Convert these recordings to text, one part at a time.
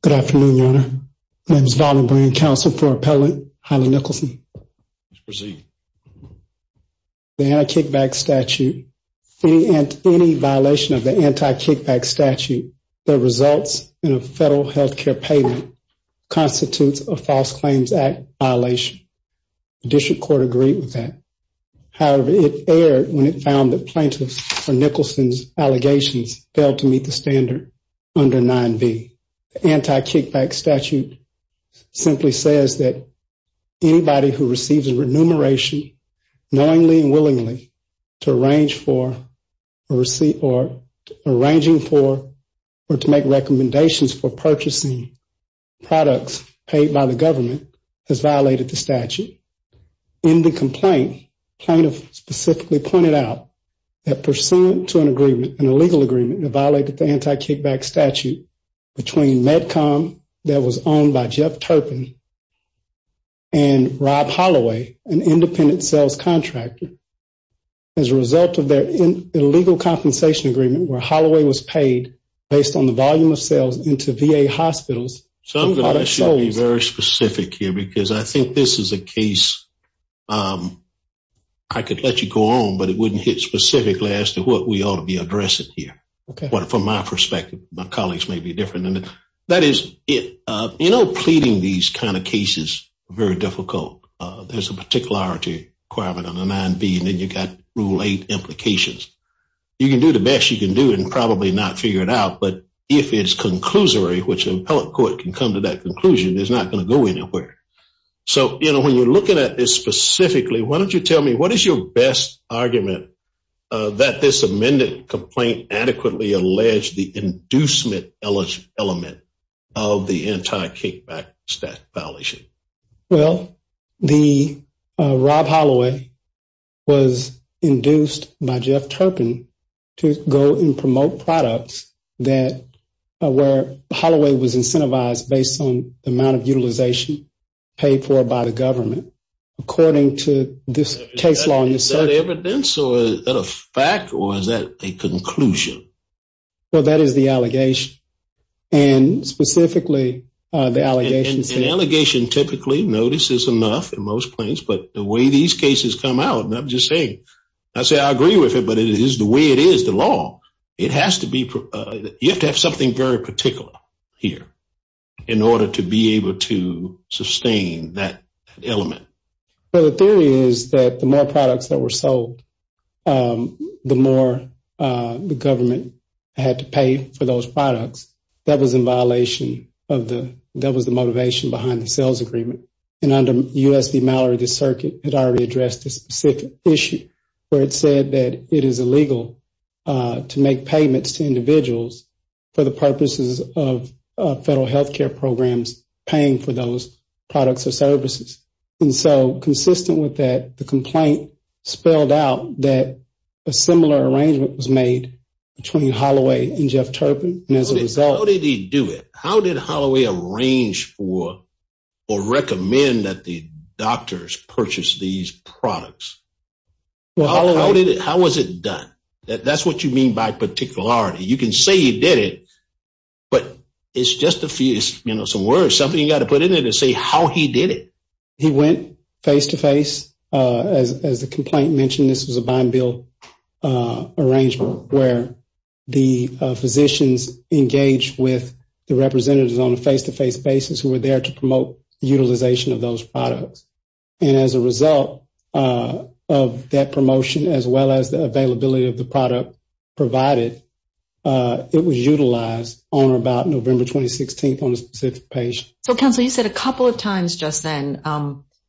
Good afternoon, Your Honor. My name is Vaughn O'Brien, Counsel for Appellant Haile Nicholson. Proceed. The Anti-Kickback Statute, any violation of the Anti-Kickback Statute that results in a federal health care payment constitutes a False Claims Act violation. The District Court agreed with that. However, it erred when it found that plaintiffs for Nicholson's allegations failed to meet the standard under 9B. The Anti-Kickback Statute simply says that anybody who receives a remuneration knowingly and willingly to arrange for or to make recommendations for purchasing products paid by the government has violated the statute. In the complaint, plaintiffs specifically pointed out that pursuant to an agreement, an illegal agreement, that violated the Anti-Kickback Statute between Medcom that was owned by Jeff Turpin and Rob Holloway, an independent sales contractor, as a result of their illegal compensation agreement where Holloway was paid based on the volume of sales into VA hospitals. So I'm going to be very specific here because I think this is a case I could let you go on, but it wouldn't hit specifically as to what we ought to be addressing here. But from my perspective, my colleagues may be different. That is, you know, pleading these kind of cases is very difficult. There's a particularity requirement under 9B, and then you've got Rule 8 implications. You can do the best you can do and probably not figure it out, but if it's conclusory, which an appellate court can come to that conclusion, it's not going to go anywhere. So, you know, when you're looking at this specifically, why don't you tell me what is your best argument that this amended complaint adequately alleged the inducement element of the Anti-Kickback Statute violation? Well, the Rob Holloway was induced by Jeff Turpin to go and promote products that where Holloway was incentivized based on the amount of utilization paid for by the government, according to this case law. Is that evidence or is that a fact or is that a conclusion? Well, that is the allegation. And specifically, the allegations. An allegation typically notices enough in most places, but the way these cases come out, and I'm just saying, I say I agree with it, but it is the way it is, the law. It has to be, you have to have something very particular here in order to be able to sustain that element. Well, the theory is that the more products that were sold, the more the government had to pay for those products. That was in violation of the, that was the motivation behind the sales agreement. And under USD Mallory, the circuit had already addressed this specific issue where it said that it is illegal to make payments to individuals for the purposes of federal health care programs paying for those products or services. And so consistent with that, the complaint spelled out that a similar arrangement was made between Holloway and Jeff Turpin. How did he do it? How did Holloway arrange for or recommend that the doctors purchase these products? How was it done? That's what you mean by particularity. You can say he did it, but it's just a few, you know, some words, something you got to put in there to say how he did it. He went face-to-face. As the complaint mentioned, this was a bond bill arrangement where the physicians engaged with the representatives on a face-to-face basis who were there to promote utilization of those products. And as a result of that promotion, as well as the availability of the product provided, it was utilized on or about November 2016 on a specific patient. So, Counsel, you said a couple of times just then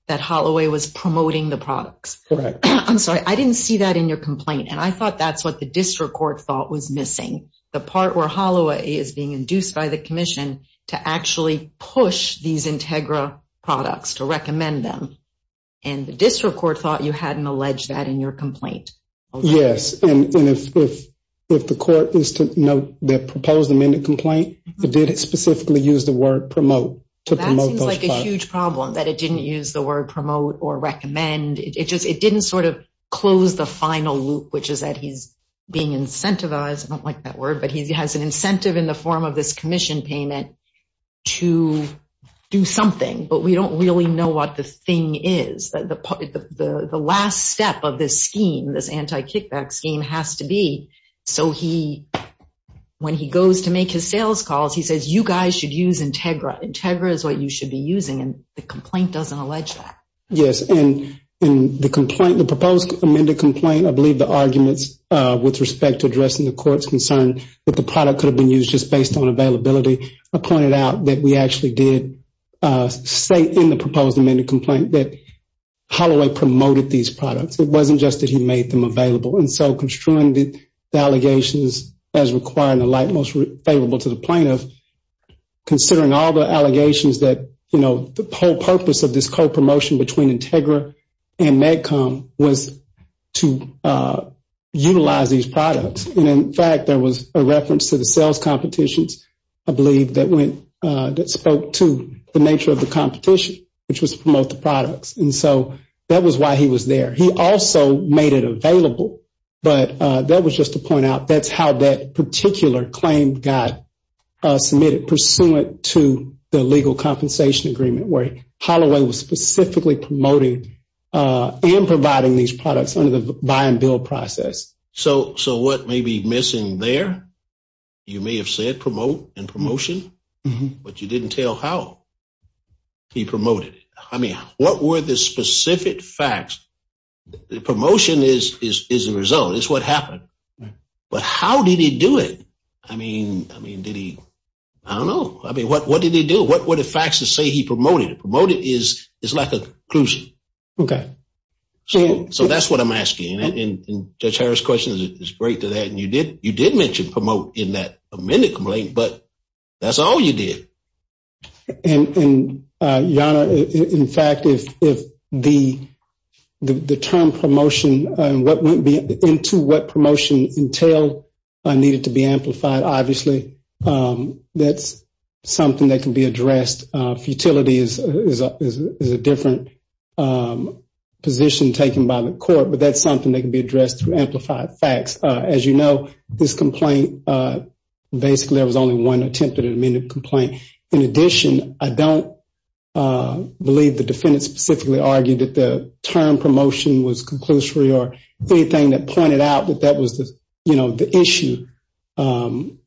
that Holloway was promoting the products. Correct. I'm sorry, I didn't see that in your complaint. And I thought that's what the district court thought was missing, the part where Holloway is being induced by the commission to actually push these Integra products, to recommend them. And the district court thought you hadn't alleged that in your complaint. Yes. And if the court is to note that proposed amended complaint, it did specifically use the word promote to promote those products. That seems like a huge problem, that it didn't use the word promote or recommend. It didn't sort of close the final loop, which is that he's being incentivized. I don't like that word, but he has an incentive in the form of this commission payment to do something. But we don't really know what the thing is. The last step of this scheme, this anti-kickback scheme, has to be so when he goes to make his sales calls, he says, you guys should use Integra. Integra is what you should be using, and the complaint doesn't allege that. Yes. And the proposed amended complaint, I believe the arguments with respect to addressing the court's concern that the product could have been used just based on availability, I pointed out that we actually did state in the proposed amended complaint that Holloway promoted these products. It wasn't just that he made them available. And so construing the allegations as requiring the light most favorable to the plaintiff, considering all the allegations that the whole purpose of this co-promotion between Integra and MedCom was to utilize these products. And, in fact, there was a reference to the sales competitions, I believe, that spoke to the nature of the competition, which was to promote the products. And so that was why he was there. He also made it available, but that was just to point out that's how that particular claim got submitted, pursuant to the legal compensation agreement where Holloway was specifically promoting and providing these products under the buy and build process. So what may be missing there? You may have said promote and promotion, but you didn't tell how he promoted it. I mean, what were the specific facts? The promotion is the result. It's what happened. But how did he do it? I mean, did he? I don't know. I mean, what did he do? What were the facts to say he promoted it? Promoted is like a conclusion. Okay. So that's what I'm asking, and Judge Harris' question is great to that. And you did mention promote in that amended complaint, but that's all you did. And, Yonah, in fact, if the term promotion and what would be into what promotion entailed needed to be amplified, obviously that's something that can be addressed. Futility is a different position taken by the court, but that's something that can be addressed through amplified facts. As you know, this complaint, basically there was only one attempted amended complaint. In addition, I don't believe the defendant specifically argued that the term promotion was conclusory or anything that pointed out that that was the issue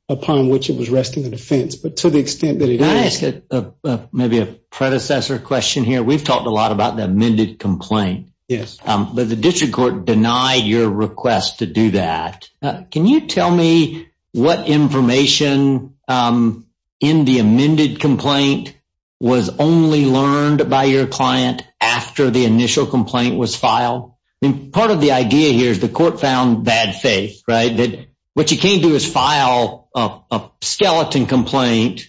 upon which it was resting the defense. Can I ask maybe a predecessor question here? We've talked a lot about the amended complaint. Yes. But the district court denied your request to do that. Can you tell me what information in the amended complaint was only learned by your client after the initial complaint was filed? I mean, part of the idea here is the court found bad faith, right? What you can't do is file a skeleton complaint,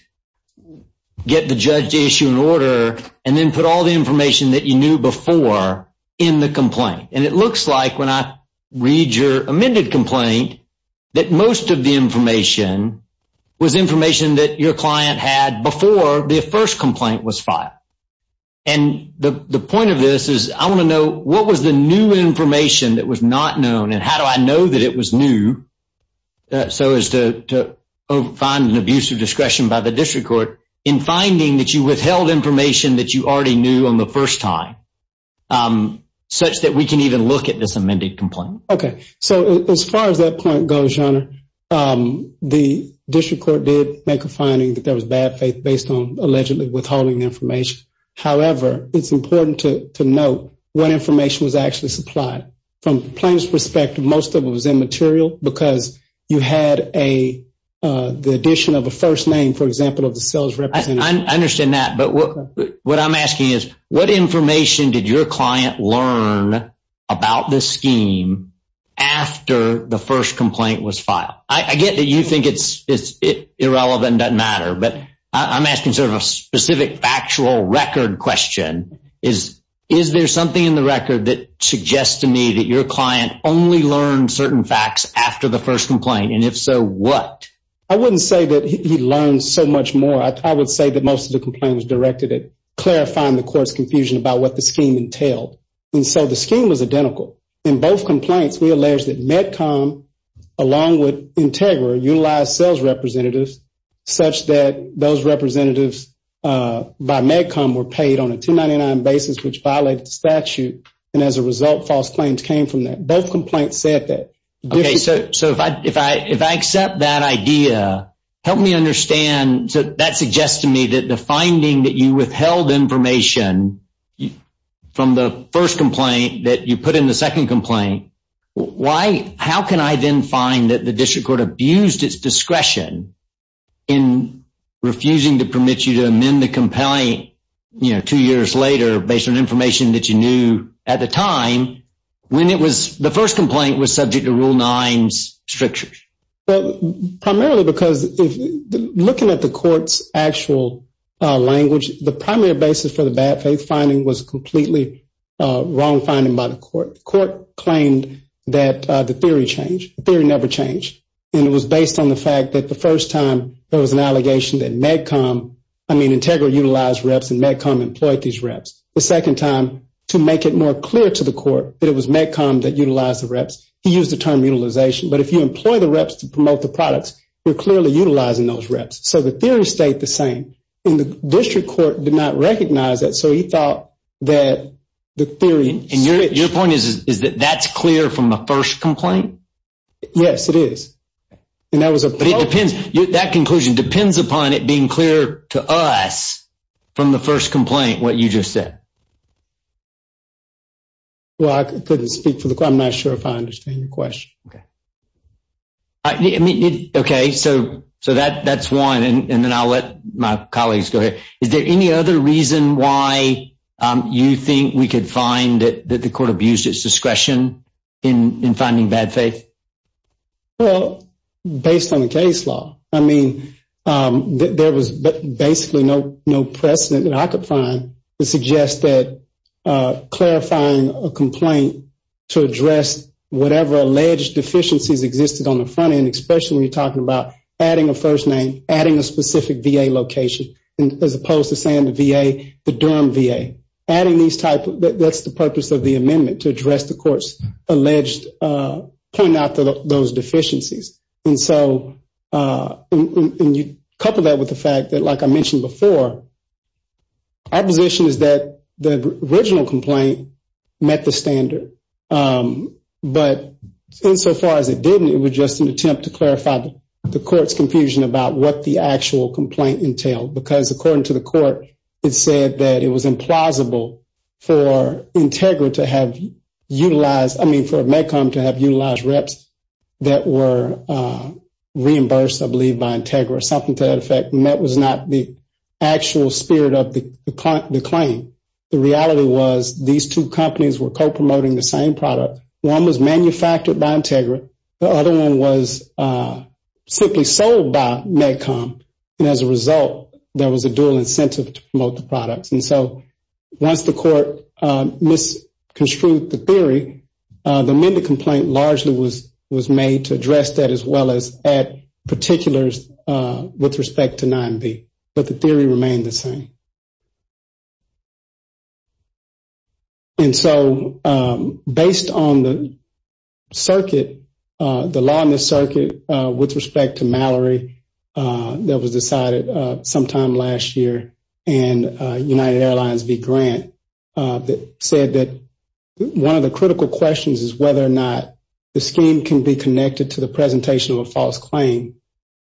get the judge to issue an order, and then put all the information that you knew before in the complaint. And it looks like when I read your amended complaint that most of the information was information that your client had before the first complaint was filed. And the point of this is I want to know what was the new information that was not known, and how do I know that it was new so as to find an abuse of discretion by the district court in finding that you withheld information that you already knew on the first time, such that we can even look at this amended complaint? Okay. So as far as that point goes, Your Honor, the district court did make a finding that there was bad faith based on allegedly withholding information. However, it's important to note what information was actually supplied. From the plaintiff's perspective, most of it was immaterial because you had the addition of a first name, for example, of the sales representative. I understand that. But what I'm asking is what information did your client learn about this scheme after the first complaint was filed? I get that you think it's irrelevant and doesn't matter, but I'm asking sort of a specific factual record question. Is there something in the record that suggests to me that your client only learned certain facts after the first complaint? And if so, what? I wouldn't say that he learned so much more. I would say that most of the complaint was directed at clarifying the court's confusion about what the scheme entailed. And so the scheme was identical. In both complaints, we alleged that MedCom, along with Integra, utilized sales representatives, such that those representatives by MedCom were paid on a 299 basis, which violated the statute. And as a result, false claims came from that. Both complaints said that. Okay, so if I accept that idea, help me understand. So that suggests to me that the finding that you withheld information from the first complaint that you put in the second complaint, how can I then find that the district court abused its discretion in refusing to permit you to amend the complaint two years later based on information that you knew at the time when the first complaint was subject to Rule 9's strictures? Well, primarily because looking at the court's actual language, the primary basis for the bad faith finding was a completely wrong finding by the court. The court claimed that the theory changed. The theory never changed. And it was based on the fact that the first time there was an allegation that MedCom, I mean, the second time to make it more clear to the court that it was MedCom that utilized the reps. He used the term utilization. But if you employ the reps to promote the products, you're clearly utilizing those reps. So the theory stayed the same. And the district court did not recognize that. So he thought that the theory. And your point is that that's clear from the first complaint? Yes, it is. But it depends. That conclusion depends upon it being clear to us from the first complaint what you just said. Well, I couldn't speak for the court. I'm not sure if I understand your question. Okay, so that's one. And then I'll let my colleagues go ahead. Is there any other reason why you think we could find that the court abused its discretion in finding bad faith? Well, based on the case law. I mean, there was basically no precedent that I could find to suggest that clarifying a complaint to address whatever alleged deficiencies existed on the front end, especially when you're talking about adding a first name, adding a specific VA location, as opposed to saying the VA, the Durham VA. That's the purpose of the amendment, to address the court's alleged point out those deficiencies. And so you couple that with the fact that, like I mentioned before, our position is that the original complaint met the standard. But insofar as it didn't, it was just an attempt to clarify the court's confusion about what the actual complaint entailed. Because according to the court, it said that it was implausible for Integra to have utilized, I mean for MedCom to have utilized reps that were reimbursed, I believe, by Integra or something to that effect. And that was not the actual spirit of the claim. The reality was these two companies were co-promoting the same product. One was manufactured by Integra. The other one was simply sold by MedCom. And as a result, there was a dual incentive to promote the products. And so once the court misconstrued the theory, the amended complaint largely was made to address that, as well as add particulars with respect to 9B. But the theory remained the same. And so based on the circuit, the law in the circuit with respect to Mallory that was decided sometime last year and United Airlines v. Grant that said that one of the critical questions is whether or not the scheme can be connected to the presentation of a false claim.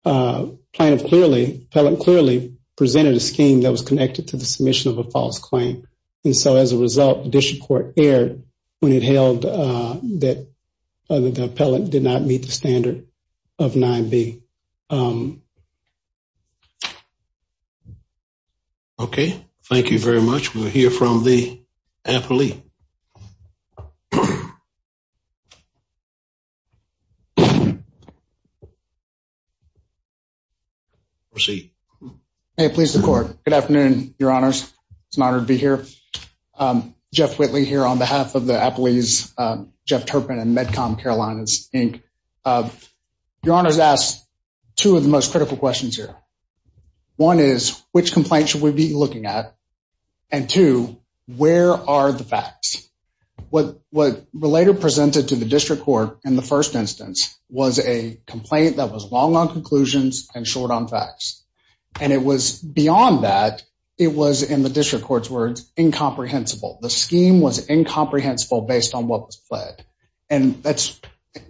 Plaintiff clearly, appellant clearly presented a scheme that was connected to the submission of a false claim. And so as a result, the district court erred when it held that the appellant did not meet the standard of 9B. Okay. Thank you very much. We'll hear from the appellee. Proceed. Please, the court. Good afternoon, Your Honors. It's an honor to be here. Jeff Whitley here on behalf of the appellees, Jeff Turpin and MedCom Carolinas, Inc. Your Honors asked two of the most critical questions here. One is, which complaint should we be looking at? And two, where are the facts? What Relator presented to the district court in the first instance was a complaint that was long on conclusions and short on facts. And it was beyond that. It was, in the district court's words, incomprehensible. The scheme was incomprehensible based on what was fled. And that's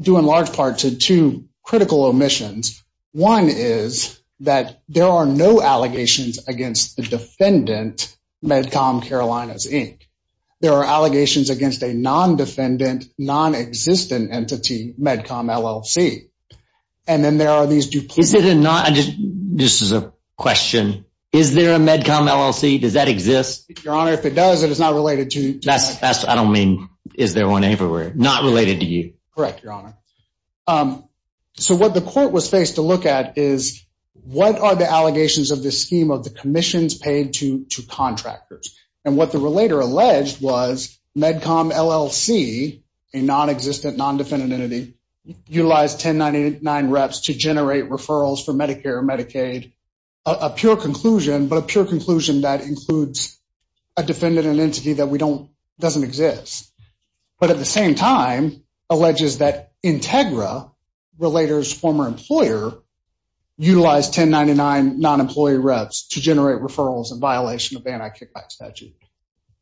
due in large part to two critical omissions. One is that there are no allegations against the defendant, MedCom Carolinas, Inc. There are allegations against a non-defendant, non-existent entity, MedCom LLC. And then there are these duplicated... Is it a non... This is a question. Is there a MedCom LLC? Does that exist? Your Honor, if it does, it is not related to MedCom. I don't mean, is there one everywhere? Not related to you? Correct, Your Honor. So what the court was faced to look at is, what are the allegations of the scheme of the commissions paid to contractors? And what the relator alleged was MedCom LLC, a non-existent, non-defendant entity, utilized 1099 reps to generate referrals for Medicare and Medicaid, a pure conclusion, but a pure conclusion that includes a defendant and entity that doesn't exist. But at the same time, alleges that Integra, relator's former employer, utilized 1099 non-employee reps to generate referrals in violation of the anti-kickback statute.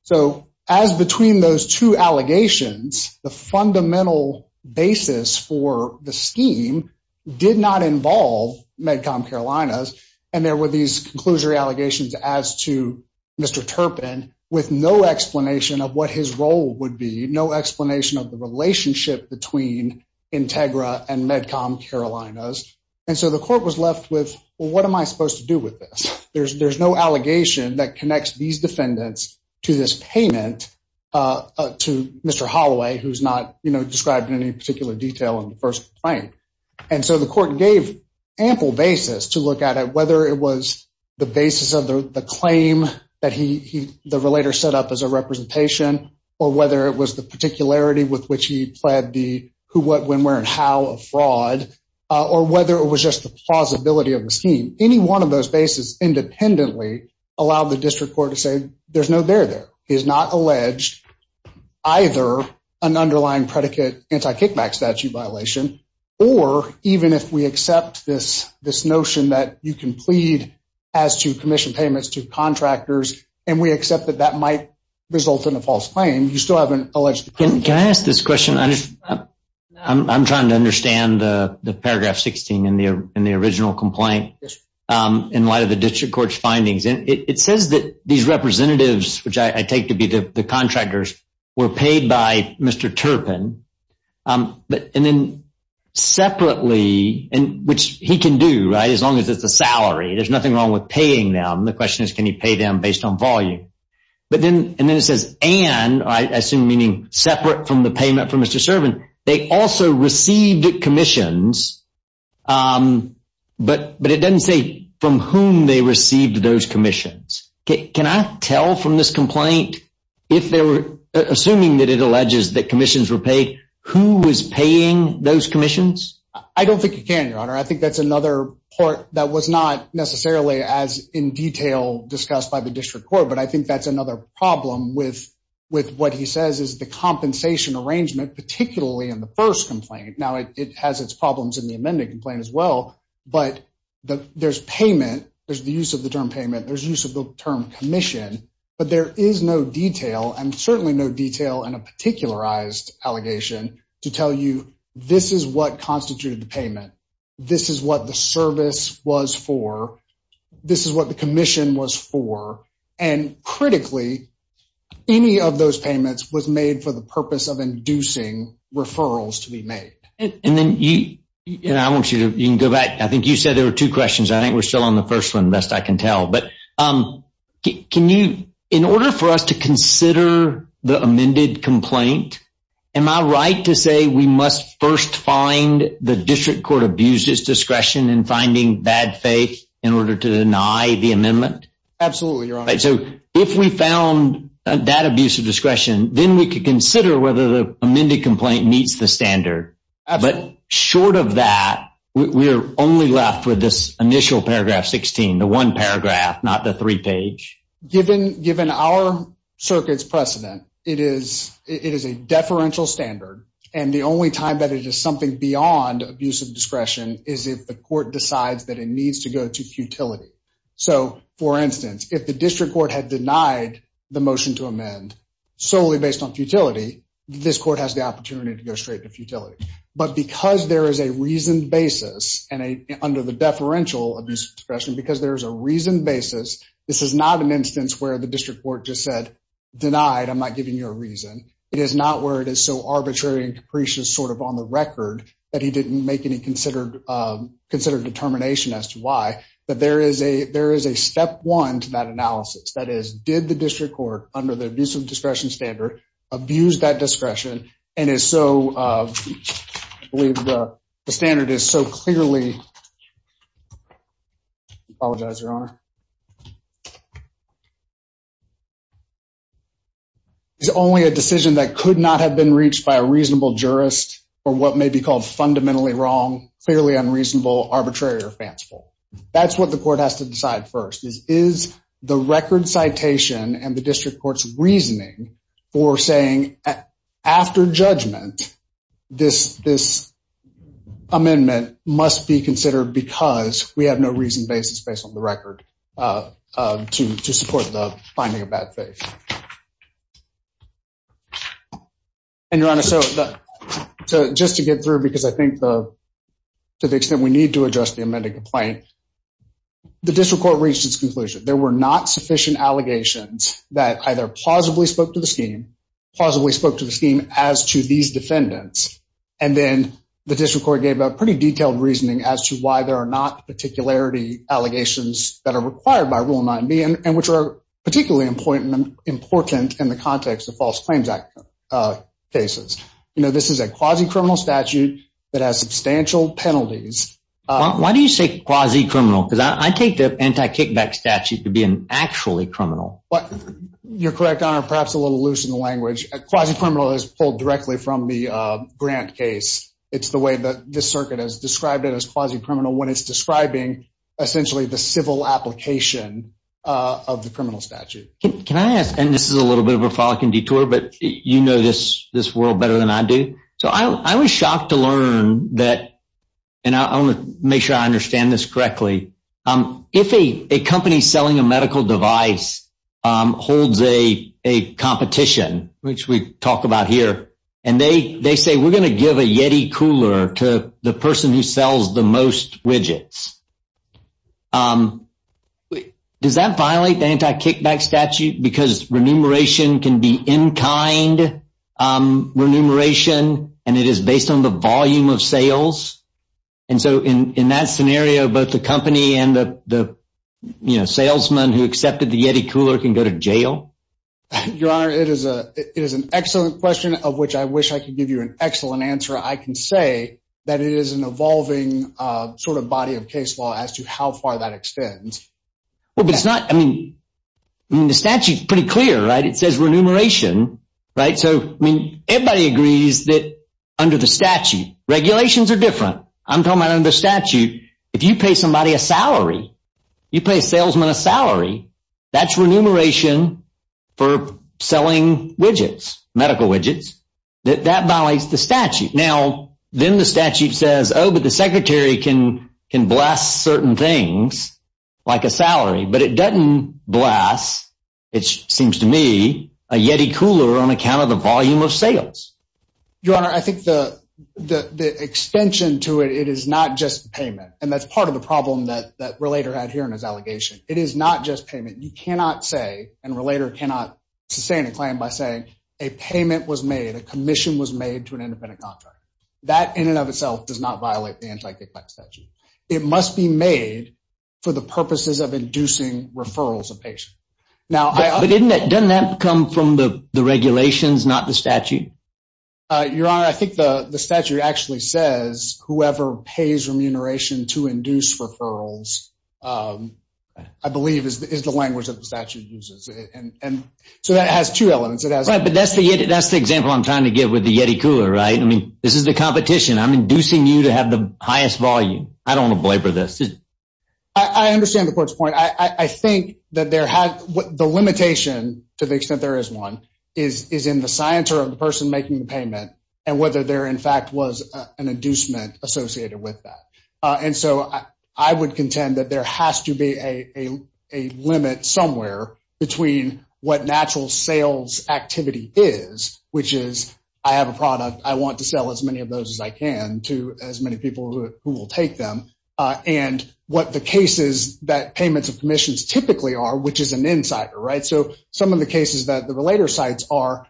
So as between those two allegations, the fundamental basis for the scheme did not involve MedCom Carolinas, and there were these conclusory allegations as to Mr. Turpin with no explanation of what his role would be, no explanation of the relationship between Integra and MedCom Carolinas. And so the court was left with, well, what am I supposed to do with this? There's no allegation that connects these defendants to this payment to Mr. Holloway, who's not described in any particular detail in the first complaint. And so the court gave ample basis to look at it, whether it was the basis of the claim that the relator set up as a representation, or whether it was the particularity with which he pled the who, what, when, where, and how of fraud, or whether it was just the plausibility of the scheme. Any one of those bases independently allowed the district court to say there's no there there. He has not alleged either an underlying predicate anti-kickback statute violation, or even if we accept this notion that you can plead as to commission payments to contractors, and we accept that that might result in a false claim. You still haven't alleged. Can I ask this question? I'm trying to understand the paragraph 16 in the original complaint in light of the district court's findings. It says that these representatives, which I take to be the contractors, were paid by Mr. Turpin. And then separately, which he can do, right, as long as it's a salary. There's nothing wrong with paying them. The question is, can you pay them based on volume? And then it says, and, I assume meaning separate from the payment from Mr. Turpin, they also received commissions, but it doesn't say from whom they received those commissions. Can I tell from this complaint, assuming that it alleges that commissions were paid, who was paying those commissions? I think that's another part that was not necessarily as in detail discussed by the district court, but I think that's another problem with what he says is the compensation arrangement, particularly in the first complaint. Now, it has its problems in the amended complaint as well, but there's payment. There's the use of the term payment. There's use of the term commission, but there is no detail, and certainly no detail in a particularized allegation to tell you this is what constituted the payment. This is what the service was for. This is what the commission was for. And critically, any of those payments was made for the purpose of inducing referrals to be made. And then you, and I want you to, you can go back. I think you said there were two questions. I think we're still on the first one, best I can tell. But can you, in order for us to consider the amended complaint, am I right to say we must first find the district court abuses discretion in finding bad faith in order to deny the amendment? Absolutely, Your Honor. So if we found that abuse of discretion, then we could consider whether the amended complaint meets the standard. But short of that, we're only left with this initial paragraph 16, the one paragraph, not the three page. Given our circuit's precedent, it is a deferential standard, and the only time that it is something beyond abuse of discretion is if the court decides that it needs to go to futility. So, for instance, if the district court had denied the motion to amend solely based on futility, this court has the opportunity to go straight to futility. But because there is a reasoned basis under the deferential abuse of discretion, because there is a reasoned basis, this is not an instance where the district court just said, denied, I'm not giving you a reason. It is not where it is so arbitrary and capricious sort of on the record that he didn't make any considered determination as to why. That is, did the district court, under the abuse of discretion standard, abuse that discretion and is so, I believe the standard is so clearly, I apologize, Your Honor. It's only a decision that could not have been reached by a reasonable jurist for what may be called fundamentally wrong, clearly unreasonable, arbitrary, or fanciful. That's what the court has to decide first. Is the record citation and the district court's reasoning for saying, after judgment, this amendment must be considered because we have no reasoned basis based on the record to support the finding of bad faith. And, Your Honor, so just to get through, because I think to the extent we need to address the amended complaint, the district court reached its conclusion. There were not sufficient allegations that either plausibly spoke to the scheme, plausibly spoke to the scheme as to these defendants, and then the district court gave a pretty detailed reasoning as to why there are not particularity allegations that are required by Rule 9b, and which are particularly important in the context of false claims cases. You know, this is a quasi-criminal statute that has substantial penalties. Why do you say quasi-criminal? Because I take the anti-kickback statute to be an actually criminal. You're correct, Your Honor, perhaps a little loose in the language. Quasi-criminal is pulled directly from the Grant case. It's the way that this circuit has described it as quasi-criminal when it's describing essentially the civil application of the criminal statute. Can I ask, and this is a little bit of a frolicking detour, but you know this world better than I do. So I was shocked to learn that, and I want to make sure I understand this correctly, if a company selling a medical device holds a competition, which we talk about here, and they say we're going to give a Yeti cooler to the person who sells the most widgets, does that violate the anti-kickback statute because remuneration can be in-kind remuneration, and it is based on the volume of sales? And so in that scenario, both the company and the salesman who accepted the Yeti cooler can go to jail? Your Honor, it is an excellent question of which I wish I could give you an excellent answer. I can say that it is an evolving sort of body of case law as to how far that extends. Well, but it's not, I mean, the statute's pretty clear, right? It says remuneration, right? So, I mean, everybody agrees that under the statute, regulations are different. I'm talking about under the statute, if you pay somebody a salary, you pay a salesman a salary, that's remuneration for selling widgets, medical widgets, that that violates the statute. Now, then the statute says, oh, but the secretary can blast certain things like a salary, but it doesn't blast, it seems to me, a Yeti cooler on account of the volume of sales. Your Honor, I think the extension to it, it is not just payment, and that's part of the problem that Relator had here in his allegation. It is not just payment. You cannot say, and Relator cannot sustain a claim by saying, a payment was made, a commission was made to an independent contractor. That in and of itself does not violate the anti-decline statute. It must be made for the purposes of inducing referrals of patients. But doesn't that come from the regulations, not the statute? Your Honor, I think the statute actually says, whoever pays remuneration to induce referrals, I believe, is the language that the statute uses. So that has two elements. But that's the example I'm trying to give with the Yeti cooler, right? I mean, this is the competition. I'm inducing you to have the highest volume. I don't want to belabor this. I understand the Court's point. I think that the limitation, to the extent there is one, is in the scienter of the person making the payment and whether there, in fact, was an inducement associated with that. And so I would contend that there has to be a limit somewhere between what natural sales activity is, which is I have a product, I want to sell as many of those as I can to as many people who will take them, and what the cases that payments of commissions typically are, which is an insider, right? So some of the cases that the relator cites are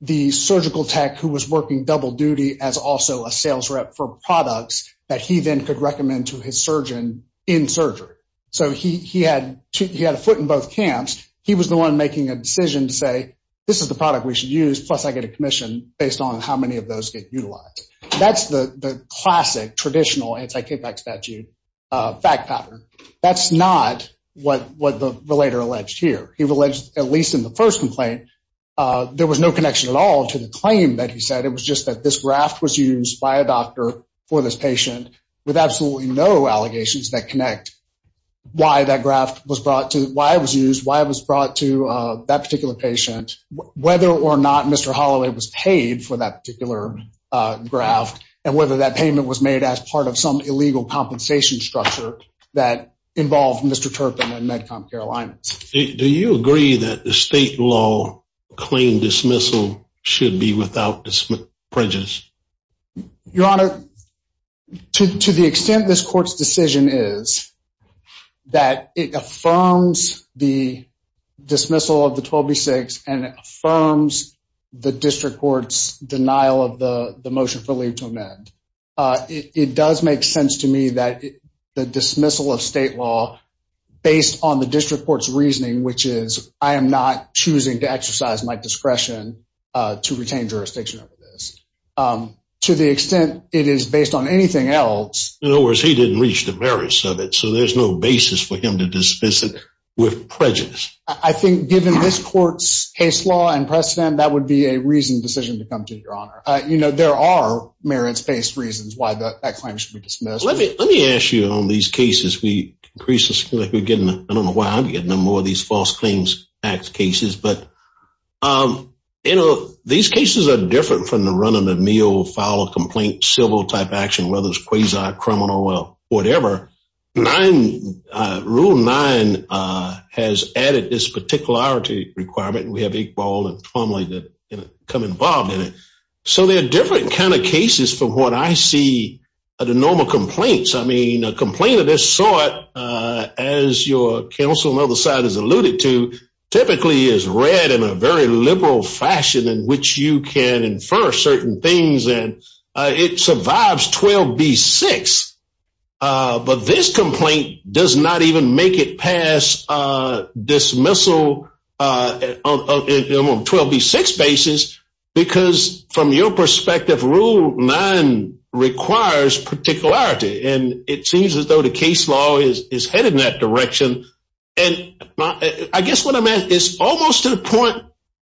the surgical tech who was working double duty as also a sales rep for products that he then could recommend to his surgeon in surgery. So he had a foot in both camps. He was the one making a decision to say, this is the product we should use, plus I get a commission, based on how many of those get utilized. That's the classic, traditional anti-KPAC statute fact pattern. That's not what the relator alleged here. He alleged, at least in the first complaint, there was no connection at all to the claim that he said. It was just that this graft was used by a doctor for this patient with absolutely no allegations that connect why that graft was brought to, why it was used, why it was brought to that particular patient, whether or not Mr. Holloway was paid for that particular graft and whether that payment was made as part of some illegal compensation structure that involved Mr. Turpin and MedCom Carolina. Do you agree that the state law claim dismissal should be without prejudice? Your Honor, to the extent this court's decision is that it affirms the dismissal of the 12B6 and it affirms the district court's denial of the motion for leave to amend, it does make sense to me that the dismissal of state law, based on the district court's reasoning, which is I am not choosing to exercise my discretion to retain jurisdiction over this, to the extent it is based on anything else. In other words, he didn't reach the merits of it, so there's no basis for him to dismiss it with prejudice. I think given this court's case law and precedent, that would be a reasoned decision to come to, Your Honor. There are merits-based reasons why that claim should be dismissed. Let me ask you on these cases. I don't know why I'm getting more of these false claims acts cases, but these cases are different from the run-of-the-mill, file-of-complaint, civil-type action, whether it's quasi-criminal or whatever. Rule 9 has added this particularity requirement, and we have Iqbal and Plumlee that come involved in it. So they're different kind of cases from what I see are the normal complaints. I mean, a complaint of this sort, as your counsel on the other side has alluded to, typically is read in a very liberal fashion in which you can infer certain things, and it survives 12b-6, but this complaint does not even make it past dismissal on a 12b-6 basis because, from your perspective, Rule 9 requires particularity, and it seems as though the case law is headed in that direction. I guess what I meant is almost to the point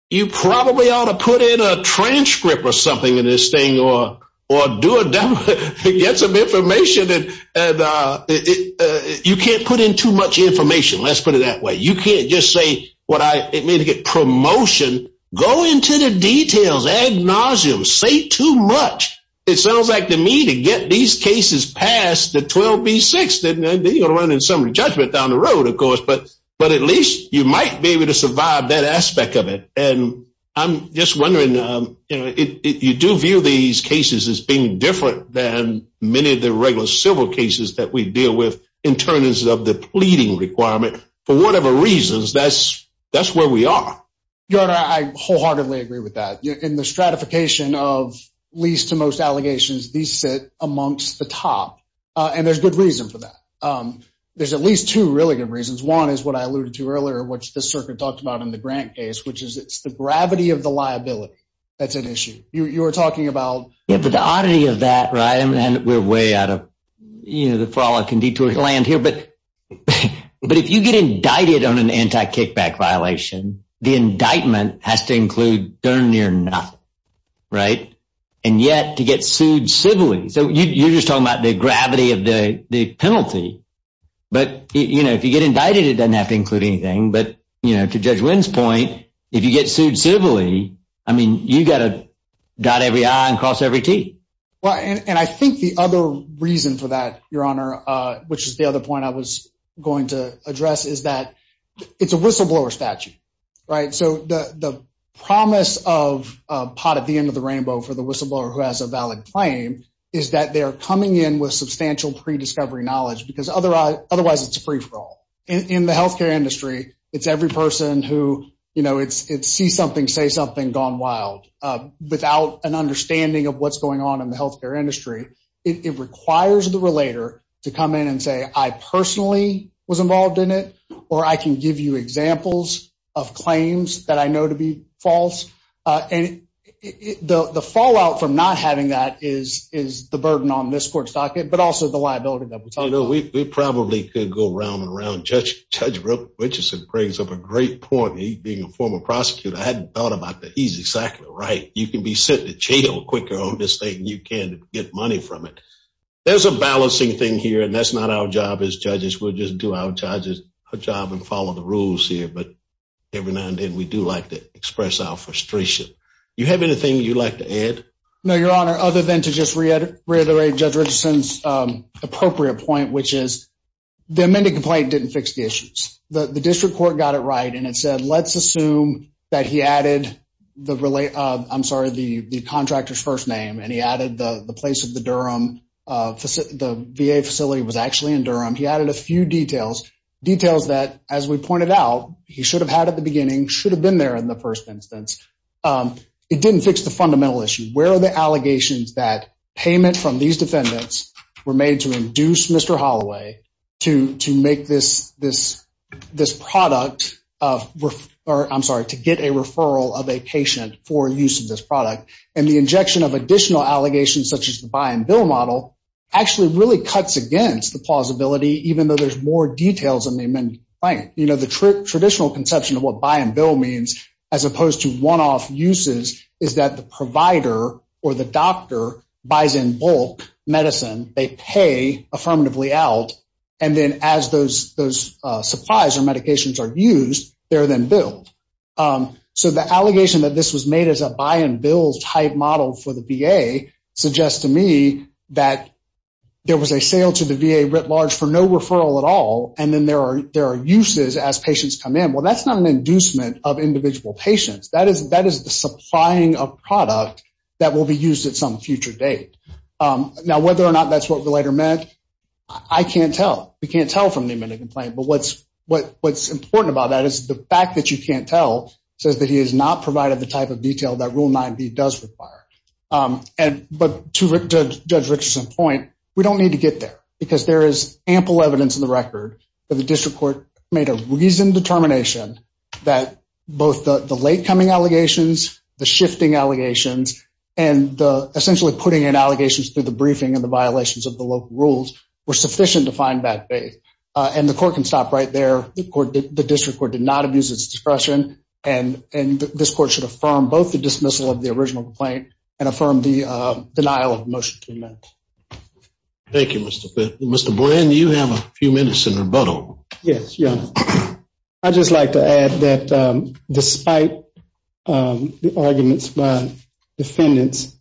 you probably ought to put in a transcript or something in this thing or do a demo to get some information. You can't put in too much information. Let's put it that way. You can't just say what I mean to get promotion. Go into the details. Agnosium. Say too much. It sounds like to me to get these cases past the 12b-6, then you're running some judgment down the road, of course, but at least you might be able to survive that aspect of it. And I'm just wondering, you know, you do view these cases as being different than many of the regular civil cases that we deal with in terms of the pleading requirement. For whatever reasons, that's where we are. Your Honor, I wholeheartedly agree with that. In the stratification of least to most allegations, these sit amongst the top, and there's good reason for that. There's at least two really good reasons. One is what I alluded to earlier, which the circuit talked about in the Grant case, which is it's the gravity of the liability that's at issue. You were talking about… Yeah, but the oddity of that, right, and we're way out of, you know, the fallout can detour your land here, but if you get indicted on an anti-kickback violation, the indictment has to include darn near nothing, right? And yet, to get sued civilly, so you're just talking about the gravity of the penalty, but, you know, if you get indicted, it doesn't have to include anything, but, you know, to Judge Wynn's point, if you get sued civilly, I mean, you've got to dot every I and cross every T. Well, and I think the other reason for that, Your Honor, which is the other point I was going to address, is that it's a whistleblower statute, right? So the promise of a pot at the end of the rainbow for the whistleblower who has a valid claim is that they're coming in with substantial pre-discovery knowledge because otherwise it's a free-for-all. In the healthcare industry, it's every person who, you know, it's see something, say something, gone wild. Without an understanding of what's going on in the healthcare industry, it requires the relator to come in and say, I personally was involved in it, or I can give you examples of claims that I know to be false. And the fallout from not having that is the burden on this court's docket, but also the liability that we talk about. We probably could go round and round. Judge Richardson brings up a great point. He, being a former prosecutor, hadn't thought about that. He's exactly right. You can be sent to jail quicker on this thing than you can get money from it. There's a balancing thing here, and that's not our job as judges. We'll just do our job and follow the rules here. But every now and then we do like to express our frustration. Do you have anything you'd like to add? No, Your Honor, other than to just reiterate Judge Richardson's appropriate point, which is the amended complaint didn't fix the issues. The district court got it right, and it said let's assume that he added the contractor's first name, and he added the place of the Durham, the VA facility was actually in Durham. He added a few details, details that, as we pointed out, he should have had at the beginning, should have been there in the first instance. It didn't fix the fundamental issue. Where are the allegations that payment from these defendants were made to get a referral of a patient for use of this product? And the injection of additional allegations, such as the buy-and-bill model, actually really cuts against the plausibility, even though there's more details in the amended complaint. The traditional conception of what buy-and-bill means, as opposed to one-off uses, is that the provider or the doctor buys in bulk medicine, they pay affirmatively out, and then as those supplies or medications are used, they're then billed. So the allegation that this was made as a buy-and-bill type model for the VA suggests to me that there was a sale to the VA writ large for no referral at all, and then there are uses as patients come in. Well, that's not an inducement of individual patients. That is the supplying of product that will be used at some future date. Now, whether or not that's what we later met, I can't tell. We can't tell from the amended complaint. But what's important about that is the fact that you can't tell says that he has not provided the type of detail that Rule 9b does require. But to Judge Richardson's point, we don't need to get there because there is ample evidence in the record that the district court made a reasoned determination that both the late-coming allegations, the shifting allegations, and essentially putting in allegations through the briefing and the violations of the local rules were sufficient to find bad faith. And the court can stop right there. The district court did not abuse its discretion, and this court should affirm both the dismissal of the original complaint and affirm the denial of the motion to amend. Thank you, Mr. Fitts. Mr. Brin, you have a few minutes in rebuttal. Yes, Your Honor. I'd just like to add that despite the arguments by defendants,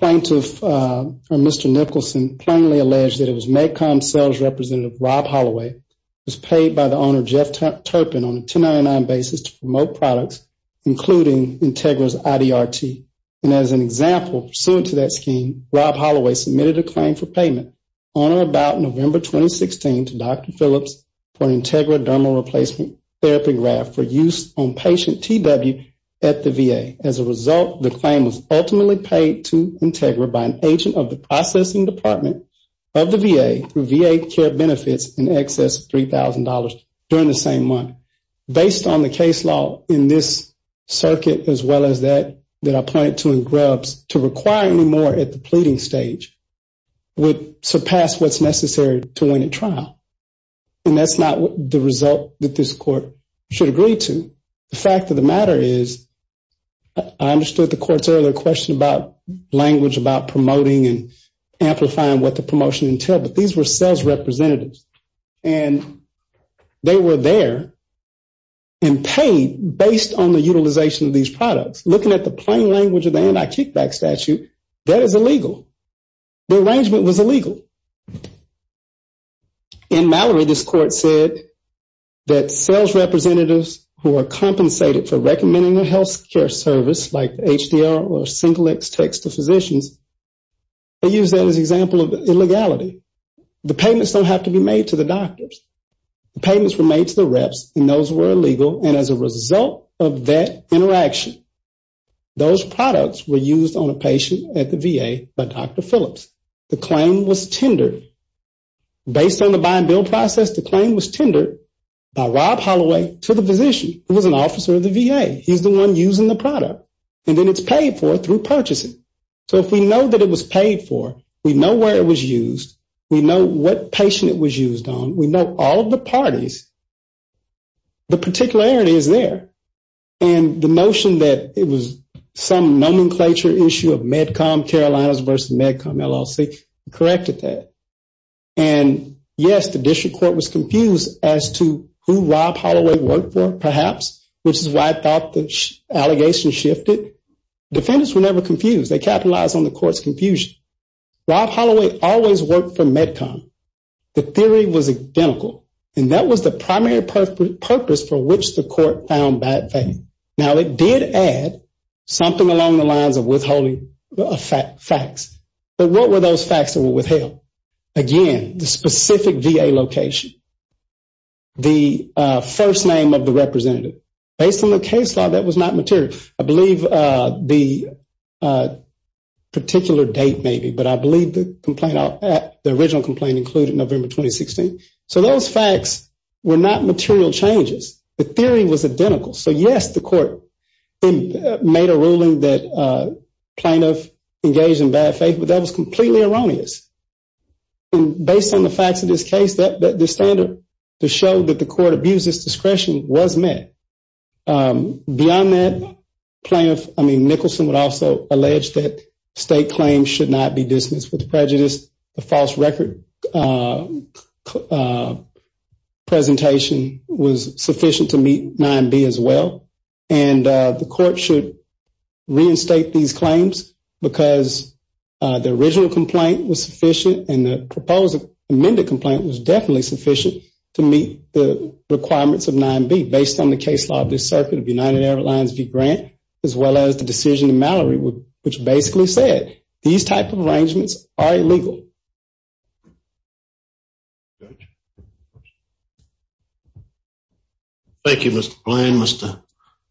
Mr. Nicholson plainly alleged that it was MedCom sales representative Rob Holloway who was paid by the owner, Jeff Turpin, on a 1099 basis to promote products, including Integra's IDRT. And as an example, pursuant to that scheme, Rob Holloway submitted a claim for payment on or about November 2016 to Dr. Phillips for an Integra dermal replacement therapy graft for use on patient TW at the VA. As a result, the claim was ultimately paid to Integra by an agent of the processing department of the VA through VA care benefits in excess of $3,000 during the same month. Based on the case law in this circuit as well as that that I pointed to in Grubbs, to require any more at the pleading stage would surpass what's necessary to win a trial. And that's not the result that this court should agree to. The fact of the matter is I understood the court's earlier question about language, about promoting and amplifying what the promotion entailed, but these were sales representatives. And they were there and paid based on the utilization of these products. Looking at the plain language of the anti-kickback statute, that is illegal. The arrangement was illegal. In Mallory, this court said that sales representatives who are compensated for recommending a health care service like the HDR or single X-Tex to physicians, they use that as an example of illegality. The payments don't have to be made to the doctors. The payments were made to the reps, and those were illegal. And as a result of that interaction, those products were used on a patient at the VA by Dr. Phillips. The claim was tendered. Based on the buy-and-build process, the claim was tendered by Rob Holloway to the physician, who was an officer of the VA. He's the one using the product. And then it's paid for through purchasing. So if we know that it was paid for, we know where it was used, we know what patient it was used on, we know all of the parties, the particularity is there. And the notion that it was some nomenclature issue of MedCom Carolinas versus MedCom LLC corrected that. And, yes, the district court was confused as to who Rob Holloway worked for, perhaps, which is why I thought the allegation shifted. Defendants were never confused. They capitalized on the court's confusion. Rob Holloway always worked for MedCom. The theory was identical. And that was the primary purpose for which the court found bad faith. Now, it did add something along the lines of withholding facts. But what were those facts that were withheld? Again, the specific VA location, the first name of the representative. Based on the case law, that was not material. I believe the particular date, maybe, but I believe the original complaint included November 2016. So those facts were not material changes. The theory was identical. So, yes, the court made a ruling that plaintiff engaged in bad faith, but that was completely erroneous. And based on the facts of this case, the standard to show that the court abused its discretion was met. Beyond that, Nicholson would also allege that state claims should not be dismissed with prejudice. The false record presentation was sufficient to meet 9B as well. And the court should reinstate these claims because the original complaint was sufficient and the proposed amended complaint was definitely sufficient to meet the requirements of 9B, based on the case law of this circuit of United Airlines v. Grant, as well as the decision in Mallory, which basically said these type of arrangements are illegal. Thank you, Mr. Bland, Mr.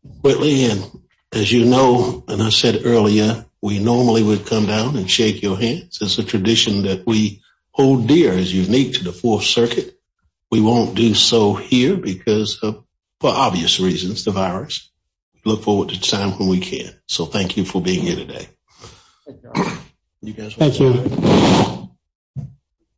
Whitley. And as you know, and I said earlier, we normally would come down and shake your hands. It's a tradition that we hold dear. It's unique to the Fourth Circuit. We won't do so here because, for obvious reasons, the virus. Look forward to the time when we can. So thank you for being here today. Thank you.